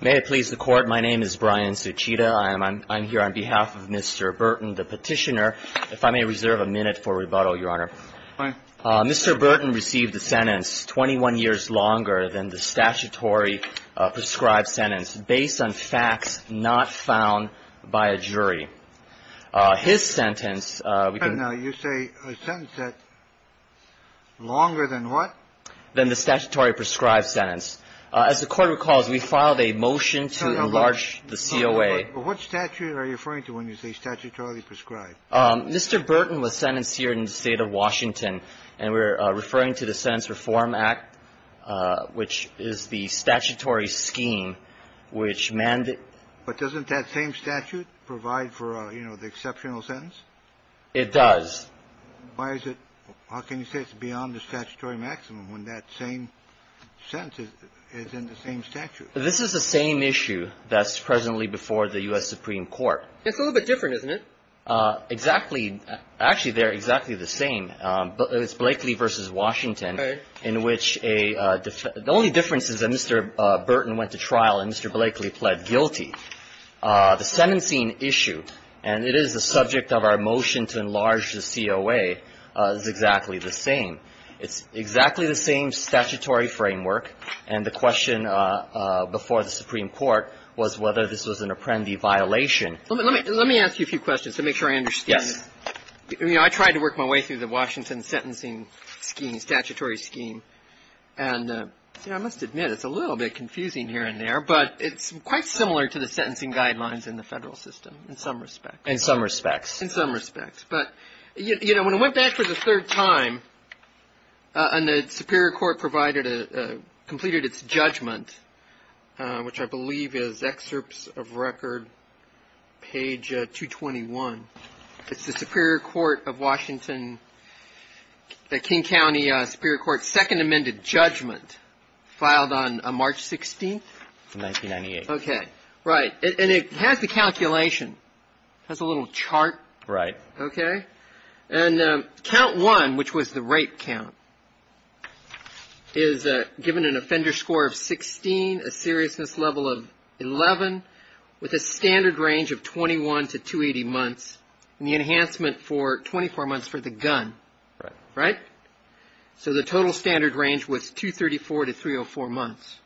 May it please the Court, my name is Brian Suchita. I'm here on behalf of Mr. Burton, the Petitioner. If I may reserve a minute for rebuttal, Your Honor. Fine. Mr. Burton received a sentence 21 years longer than the statutory prescribed sentence based on facts not found by a jury. His sentence, we can No, you say a sentence that's longer than what? Than the statutory prescribed sentence. As the Court recalls, we filed a motion to enlarge the COA. What statute are you referring to when you say statutorily prescribed? Mr. Burton was sentenced here in the State of Washington. And we're referring to the Sentence Reform Act, which is the statutory scheme which mandated But doesn't that same statute provide for, you know, the exceptional sentence? It does. Why is it, how can you say it's beyond the statutory maximum when that same sentence is in the same statute? This is the same issue that's presently before the U.S. Supreme Court. It's a little bit different, isn't it? Exactly. Actually, they're exactly the same. It's Blakely v. Washington in which a the only difference is that Mr. Burton went to trial and Mr. Blakely pled guilty. The sentencing issue, and it is the subject of our motion to enlarge the COA, is exactly the same. It's exactly the same statutory framework. And the question before the Supreme Court was whether this was an apprendi violation. Let me ask you a few questions to make sure I understand. Yes. You know, I tried to work my way through the Washington sentencing scheme, statutory scheme, and I must admit it's a little bit confusing here and there. But it's quite similar to the sentencing guidelines in the federal system in some respects. In some respects. In some respects. But, you know, when I went back for the third time and the Superior Court provided, completed its judgment, which I believe is excerpts of record page 221, it's the Superior Court of Washington, the King County Superior Court second amended judgment filed on March 16th. 1998. Okay. Right. And it has the calculation. It has a little chart. Right. Okay. And count one, which was the rape count, is given an offender score of 16, a seriousness level of 11, with a standard range of 21 to 280 months and the enhancement for 24 months for the gun. Right. Right? So the total standard range was 234 to 304 months.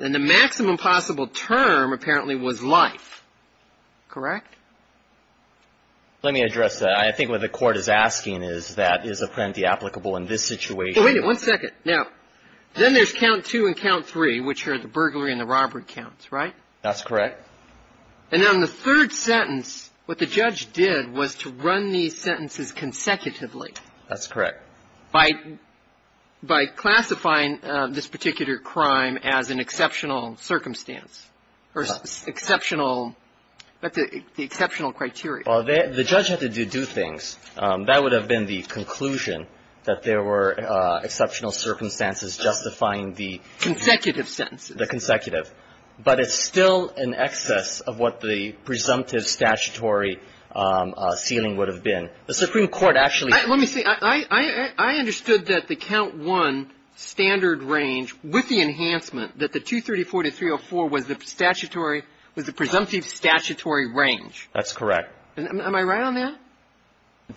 And the maximum possible term apparently was life. Correct? Let me address that. I think what the court is asking is that is apprendi applicable in this situation. Wait a minute. One second. Okay. Now, then there's count two and count three, which are the burglary and the robbery counts. Right? That's correct. And then the third sentence, what the judge did was to run these sentences consecutively. That's correct. By classifying this particular crime as an exceptional circumstance or exceptional the exceptional criteria. Well, the judge had to do things. That would have been the conclusion, that there were exceptional circumstances justifying the consecutive sentences. The consecutive. But it's still in excess of what the presumptive statutory ceiling would have been. The Supreme Court actually ---- Let me say, I understood that the count one standard range with the enhancement, that the 234 to 304 was the statutory, was the presumptive statutory range. That's correct. Am I right on that?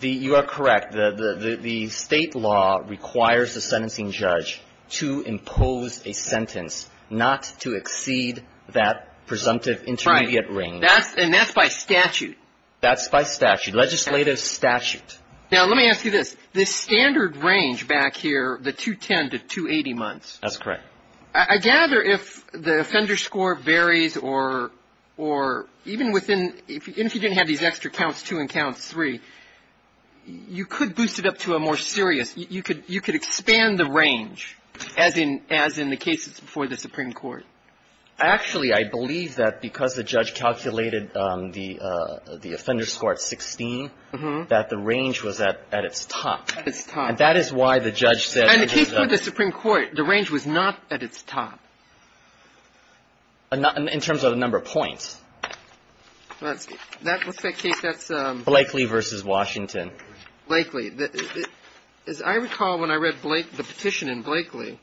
You are correct. The State law requires the sentencing judge to impose a sentence not to exceed that presumptive intermediate range. Right. And that's by statute. That's by statute. Legislative statute. Now, let me ask you this. The standard range back here, the 210 to 280 months. That's correct. I gather if the offender score varies or even within ---- even if you didn't have these extra counts two and count three, you could boost it up to a more serious. You could expand the range as in the cases before the Supreme Court. Actually, I believe that because the judge calculated the offender score at 16, that the range was at its top. At its top. And that is why the judge said ---- And the case before the Supreme Court, the range was not at its top. In terms of the number of points. That's ---- Blakely versus Washington. Blakely. As I recall when I read the petition in Blakely.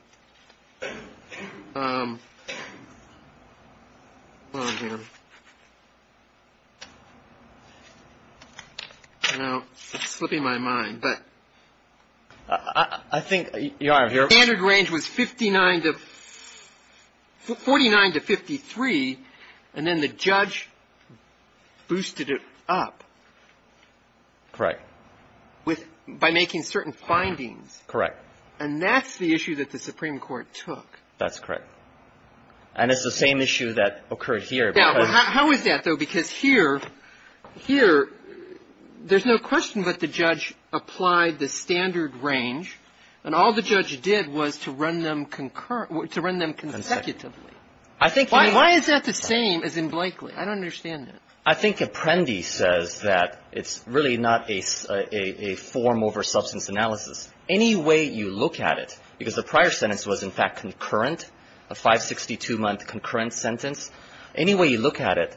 Hold on here. Now, it's slipping my mind. But ---- I think you are here. The standard range was 49 to 53, and then the judge boosted it up. Correct. By making certain findings. Correct. And that's the issue that the Supreme Court took. That's correct. And it's the same issue that occurred here. How is that, though? Because here, there's no question but the judge applied the standard range. And all the judge did was to run them concurrent ---- to run them consecutively. I think ---- Why is that the same as in Blakely? I don't understand that. I think Apprendi says that it's really not a form over substance analysis. Any way you look at it, because the prior sentence was, in fact, concurrent, a 562-month concurrent sentence. Any way you look at it,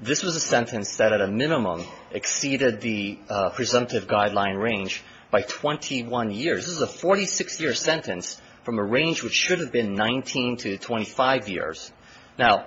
this was a sentence that at a minimum exceeded the presumptive guideline range by 21 years. This is a 46-year sentence from a range which should have been 19 to 25 years. Now,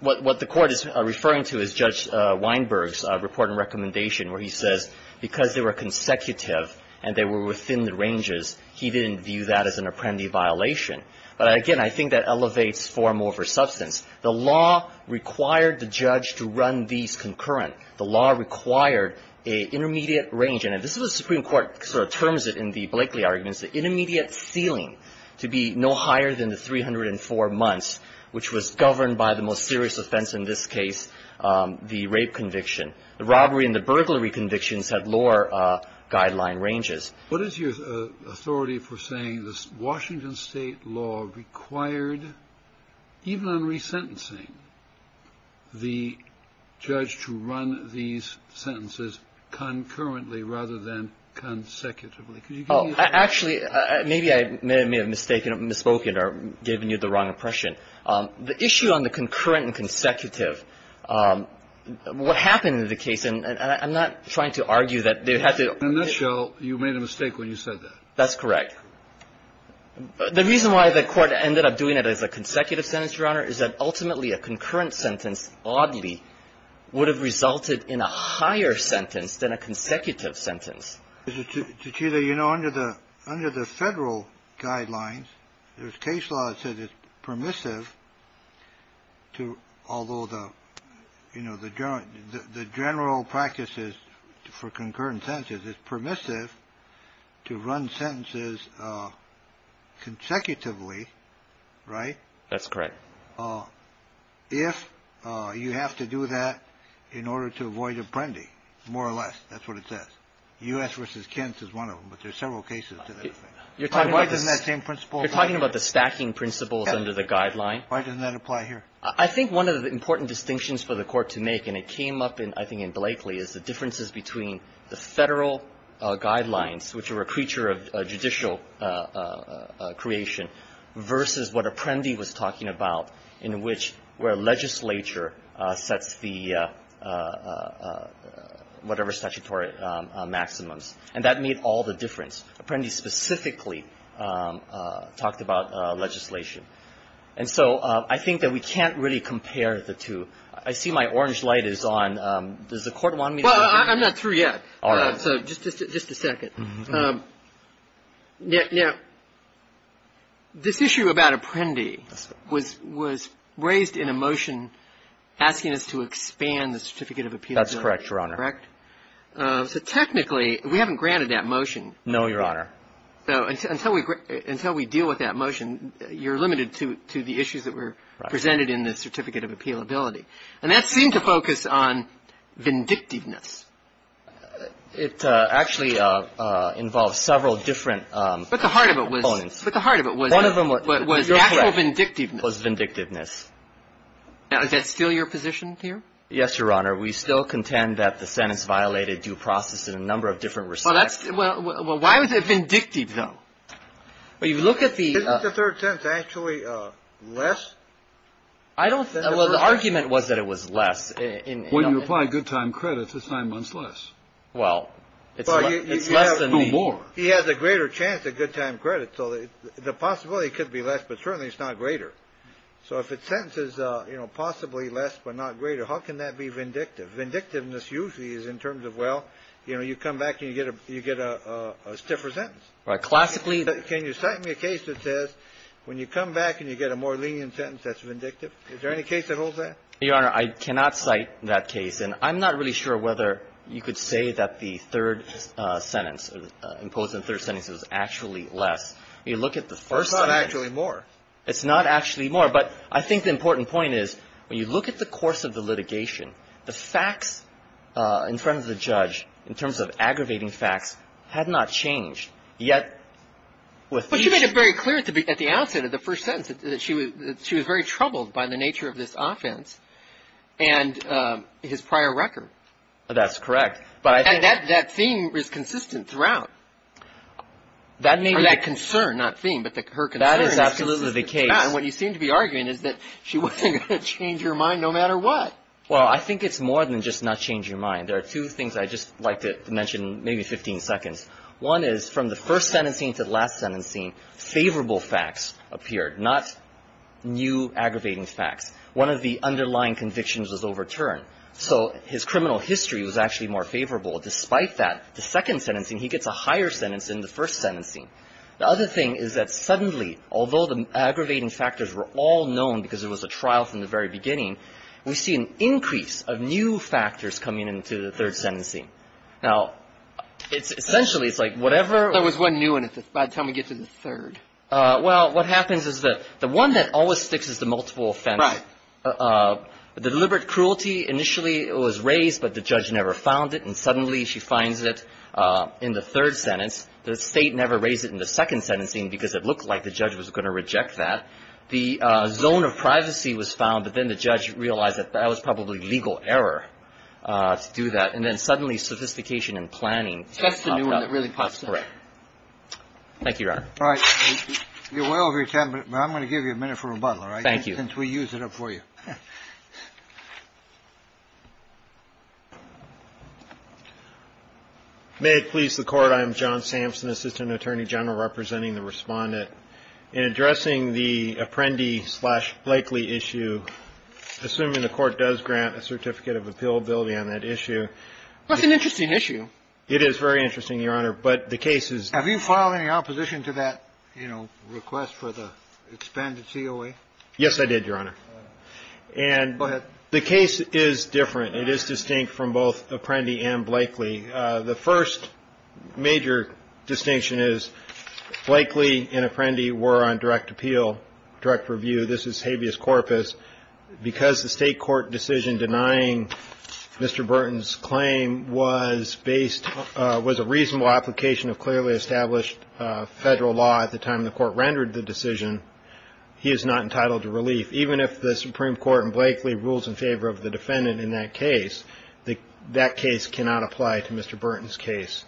what the Court is referring to is Judge Weinberg's report and recommendation where he says because they were consecutive and they were within the ranges, he didn't view that as an Apprendi violation. But, again, I think that elevates form over substance. The law required the judge to run these concurrent. The law required an intermediate range. And this is what the Supreme Court sort of terms it in the Blakely arguments, the intermediate ceiling to be no higher than the 304 months, which was governed by the most serious offense in this case, the rape conviction. The robbery and the burglary convictions had lower guideline ranges. What is your authority for saying this Washington State law required, even in resentencing, the judge to run these sentences concurrently rather than consecutively? Could you give me an answer? Oh, actually, maybe I may have mistaken or misspoken or given you the wrong impression. The issue on the concurrent and consecutive, what happened in the case, and I'm not trying to argue that they had to ---- In a nutshell, you made a mistake when you said that. That's correct. My concern is that ultimately a concurrent sentence, oddly, would have resulted in a higher sentence than a consecutive sentence. Chita, you know, under the federal guidelines, there's case law that says it's permissive to, although the general practices for concurrent sentences is permissive to run sentences consecutively. Right? That's correct. If you have to do that in order to avoid apprendi, more or less, that's what it says. U.S. v. Kent is one of them, but there's several cases to that effect. Why doesn't that same principle apply here? You're talking about the stacking principles under the guideline? Yeah. Why doesn't that apply here? I think one of the important distinctions for the Court to make, and it came up in, I think, in Blakely, is the differences between the federal guidelines, which are a creature of judicial creation, versus what apprendi was talking about, in which where legislature sets the whatever statutory maximums. And that made all the difference. Apprendi specifically talked about legislation. And so I think that we can't really compare the two. I see my orange light is on. Does the Court want me to continue? Well, I'm not through yet. All right. So just a second. Now, this issue about apprendi was raised in a motion asking us to expand the certificate of appeal. That's correct, Your Honor. Correct? So technically, we haven't granted that motion. No, Your Honor. So until we deal with that motion, you're limited to the issues that were presented in the certificate of appealability. And that seemed to focus on vindictiveness. It actually involves several different components. But the heart of it was natural vindictiveness. It was vindictiveness. Now, is that still your position here? Yes, Your Honor. We still contend that the sentence violated due process in a number of different respects. Well, why was it vindictive, though? Well, you look at the — Isn't the third sentence actually less? I don't think — Well, the argument was that it was less. When you apply good time credit, it's nine months less. Well, it's less than the — Well, you have two more. He has a greater chance at good time credit. So the possibility could be less, but certainly it's not greater. So if a sentence is, you know, possibly less but not greater, how can that be vindictive? Vindictiveness usually is in terms of, well, you know, you come back and you get a stiffer sentence. Classically — Well, it's not actually more. It's not actually more. But I think the important point is when you look at the course of the litigation, the facts in front of the judge in terms of aggravating facts had not changed, yet with each — But she made it very clear at the outset of the first sentence that she was — that she was very clear by the nature of this offense and his prior record. That's correct. But I think — And that theme is consistent throughout. That may be — Or that concern, not theme, but her concern is consistent throughout. That is absolutely the case. And what you seem to be arguing is that she wasn't going to change her mind no matter what. Well, I think it's more than just not change your mind. There are two things I'd just like to mention, maybe 15 seconds. One is from the first sentencing to the last sentencing, favorable facts appeared, not new aggravating facts. One of the underlying convictions was overturned. So his criminal history was actually more favorable. Despite that, the second sentencing, he gets a higher sentence than the first sentencing. The other thing is that suddenly, although the aggravating factors were all known because it was a trial from the very beginning, we see an increase of new factors coming into the third sentencing. Now, essentially, it's like whatever — There was one new one by the time we get to the third. Well, what happens is that the one that always sticks is the multiple offense. Right. The deliberate cruelty, initially it was raised, but the judge never found it. And suddenly she finds it in the third sentence. The state never raised it in the second sentencing because it looked like the judge was going to reject that. The zone of privacy was found, but then the judge realized that that was probably legal error to do that. And then suddenly sophistication and planning popped up. That's the new one that really pops up. Thank you, Your Honor. All right. You're way over your time, but I'm going to give you a minute for rebuttal, all right? Thank you. Since we used it up for you. May it please the Court. I am John Sampson, Assistant Attorney General, representing the Respondent. In addressing the Apprendi slash Blakely issue, assuming the Court does grant a certificate of appealability on that issue. That's an interesting issue. It is very interesting, Your Honor. But the case is. Have you filed any opposition to that, you know, request for the expanded COA? Yes, I did, Your Honor. And. Go ahead. The case is different. It is distinct from both Apprendi and Blakely. The first major distinction is Blakely and Apprendi were on direct appeal, direct review. This is habeas corpus. Because the state court decision denying Mr. Burton's claim was based. Was a reasonable application of clearly established federal law at the time the court rendered the decision. He is not entitled to relief, even if the Supreme Court and Blakely rules in favor of the defendant in that case. That case cannot apply to Mr. Burton's case.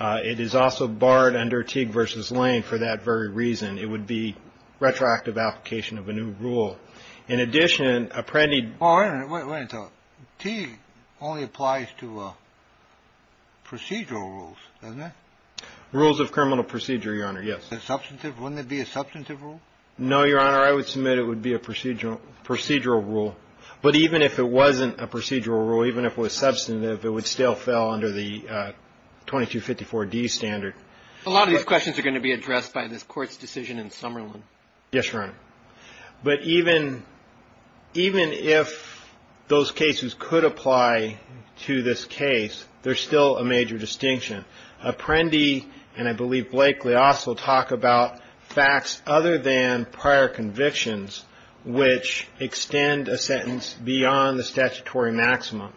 It is also barred under Teague versus Lane for that very reason. It would be retroactive application of a new rule. In addition, Apprendi. Wait a minute. Teague only applies to procedural rules, doesn't it? Rules of criminal procedure, Your Honor. Yes. Substantive. Wouldn't it be a substantive rule? No, Your Honor. I would submit it would be a procedural procedural rule. But even if it wasn't a procedural rule, even if it was substantive, it would still fell under the 2254 D standard. A lot of these questions are going to be addressed by this court's decision in Summerlin. Yes, Your Honor. But even if those cases could apply to this case, there's still a major distinction. Apprendi and I believe Blakely also talk about facts other than prior convictions which extend a sentence beyond the statutory maximum.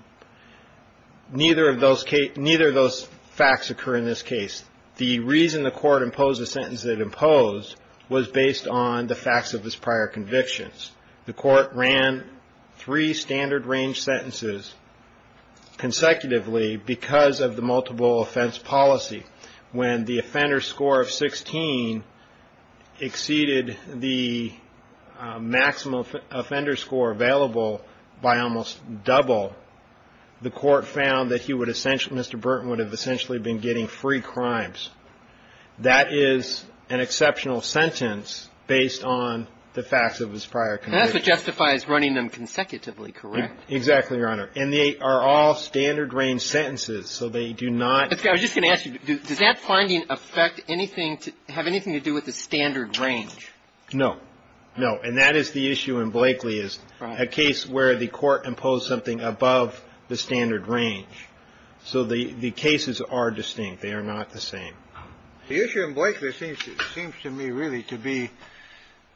Neither of those facts occur in this case. The reason the court imposed the sentence it imposed was based on the facts of its prior convictions. The court ran three standard range sentences consecutively because of the multiple offense policy. When the offender score of 16 exceeded the maximum offender score available by almost double, the court found that Mr. Burton would have essentially been getting free crimes. That is an exceptional sentence based on the facts of his prior convictions. That's what justifies running them consecutively, correct? Exactly, Your Honor. And they are all standard range sentences. So they do not – I was just going to ask you, does that finding affect anything to – have anything to do with the standard range? No. No. And that is the issue in Blakely is a case where the court imposed something above the standard range. So the cases are distinct. They are not the same. The issue in Blakely seems to me really to be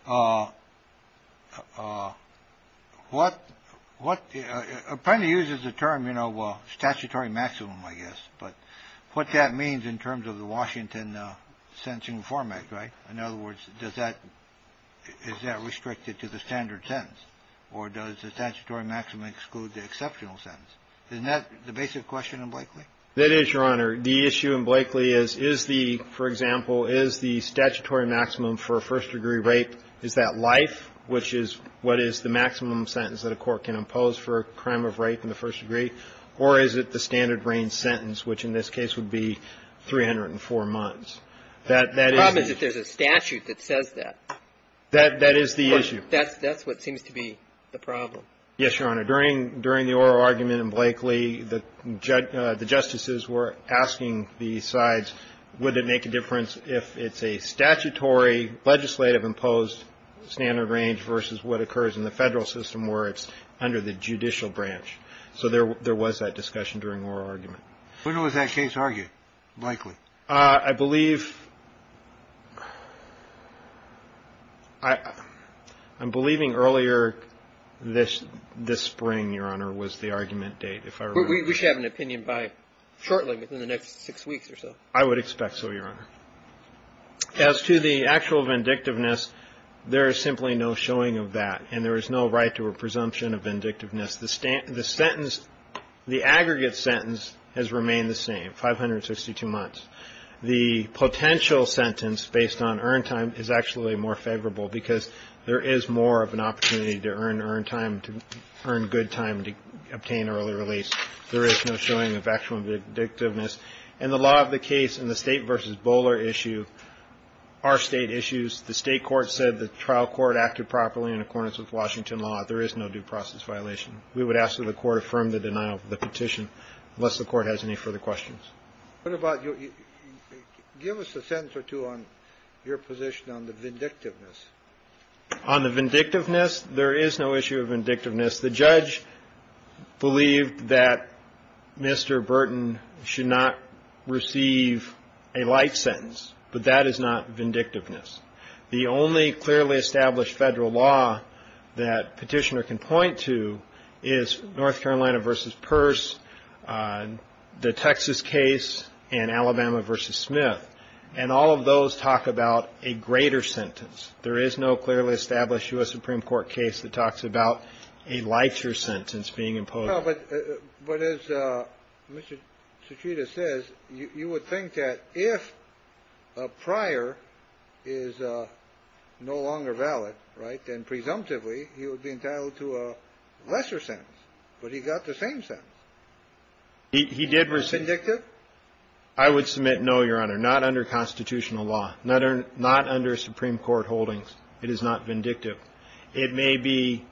what – apparently uses the term, you know, statutory maximum, I guess. But what that means in terms of the Washington Sentencing Reform Act, right? In other words, does that – is that restricted to the standard sentence? Or does the statutory maximum exclude the exceptional sentence? Isn't that the basic question in Blakely? That is, Your Honor. The issue in Blakely is, is the – for example, is the statutory maximum for a first-degree rape, is that life, which is what is the maximum sentence that a court can impose for a crime of rape in the first degree? Or is it the standard range sentence, which in this case would be 304 months? The problem is that there's a statute that says that. That is the issue. Yes, Your Honor. During the oral argument in Blakely, the justices were asking the sides, would it make a difference if it's a statutory legislative imposed standard range versus what occurs in the federal system where it's under the judicial branch? So there was that discussion during the oral argument. When was that case argued, Blakely? I believe – I'm believing earlier this spring, Your Honor, was the argument date, if I remember. We should have an opinion by – shortly, within the next six weeks or so. I would expect so, Your Honor. As to the actual vindictiveness, there is simply no showing of that, and there is no right to a presumption of vindictiveness. The sentence – the aggregate sentence has remained the same, 562 months. The potential sentence, based on earned time, is actually more favorable because there is more of an opportunity to earn earned time, to earn good time, to obtain early release. There is no showing of actual vindictiveness. In the law of the case, in the State v. Bowler issue, our State issues, the State court said the trial court acted properly in accordance with Washington law. There is no due process violation. We would ask that the court affirm the denial of the petition unless the court has any further questions. What about your – give us a sentence or two on your position on the vindictiveness. On the vindictiveness, there is no issue of vindictiveness. The judge believed that Mr. Burton should not receive a light sentence, but that is not vindictiveness. The only clearly established Federal law that Petitioner can point to is North Carolina v. Peirce, the Texas case, and Alabama v. Smith, and all of those talk about a greater sentence. There is no clearly established U.S. Supreme Court case that talks about a lighter sentence being imposed. No, but as Mr. Citrita says, you would think that if a prior is no longer valid, right, then presumptively he would be entitled to a lesser sentence. But he got the same sentence. He did receive – Vindictive? I would submit no, Your Honor. Not under constitutional law. Not under Supreme Court holdings. It is not vindictive. It may be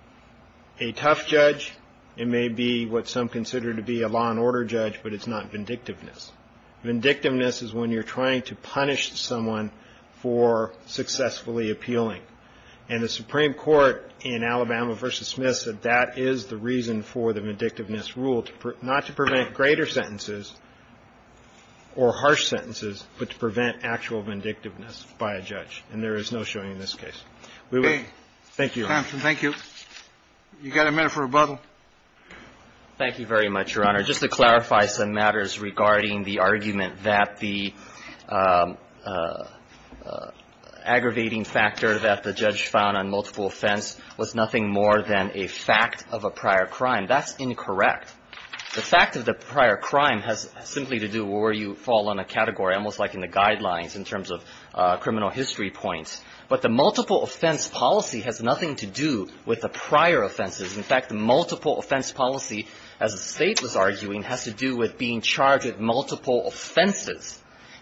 a tough judge. It may be what some consider to be a law and order judge, but it's not vindictiveness. Vindictiveness is when you're trying to punish someone for successfully appealing. And the Supreme Court in Alabama v. Smith said that is the reason for the vindictiveness rule, not to prevent greater sentences or harsh sentences, but to prevent actual vindictiveness by a judge, and there is no showing in this case. Okay. Thank you. Thank you. You've got a minute for rebuttal. Thank you very much, Your Honor. Just to clarify some matters regarding the argument that the aggravating factor that the judge found on multiple offense was nothing more than a fact of a prior crime, that's incorrect. The fact of the prior crime has simply to do with where you fall on a category, almost like in the guidelines in terms of criminal history points. But the multiple offense policy has nothing to do with the prior offenses. In fact, the multiple offense policy, as the State was arguing, has to do with being charged with multiple offenses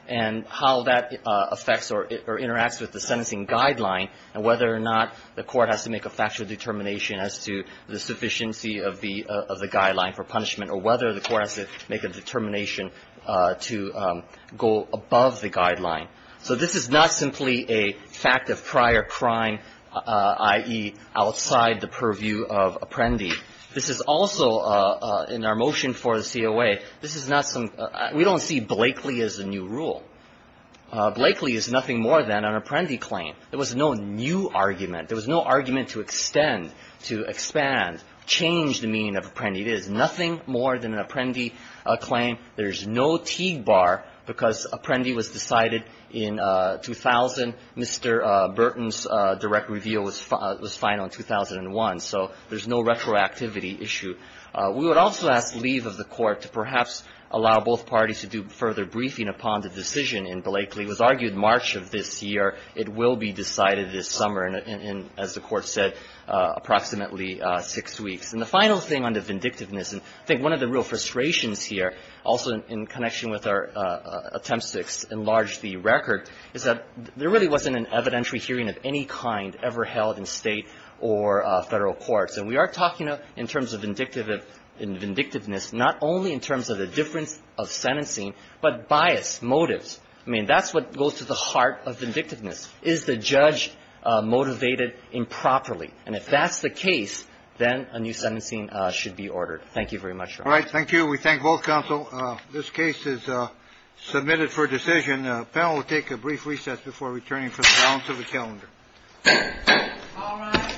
and how that affects or interacts with the sentencing guideline and whether or not the court has to make a factual determination as to the sufficiency of the guideline for punishment or whether the court has to make a determination to go above the guideline. So this is not simply a fact of prior crime, i.e., outside the purview of Apprendi. This is also, in our motion for the COA, this is not some – we don't see Blakeley as a new rule. Blakeley is nothing more than an Apprendi claim. There was no new argument. There was no argument to extend, to expand, change the meaning of Apprendi. It is nothing more than an Apprendi claim. There is no Teague bar because Apprendi was decided in 2000. Mr. Burton's direct review was final in 2001. So there's no retroactivity issue. We would also ask leave of the Court to perhaps allow both parties to do further briefing upon the decision in Blakeley. It was argued March of this year. It will be decided this summer in, as the Court said, approximately six weeks. And the final thing on the vindictiveness, and I think one of the real frustrations here, also in connection with our attempt to enlarge the record, is that there really wasn't an evidentiary hearing of any kind ever held in State or Federal courts. And we are talking in terms of vindictiveness not only in terms of the difference of sentencing, but bias, motives. I mean, that's what goes to the heart of vindictiveness. Is the judge motivated improperly? And if that's the case, then a new sentencing should be ordered. Thank you very much, Your Honor. All right. Thank you. We thank both counsel. This case is submitted for decision. The panel will take a brief reset before returning from the balance of the calendar. All rise.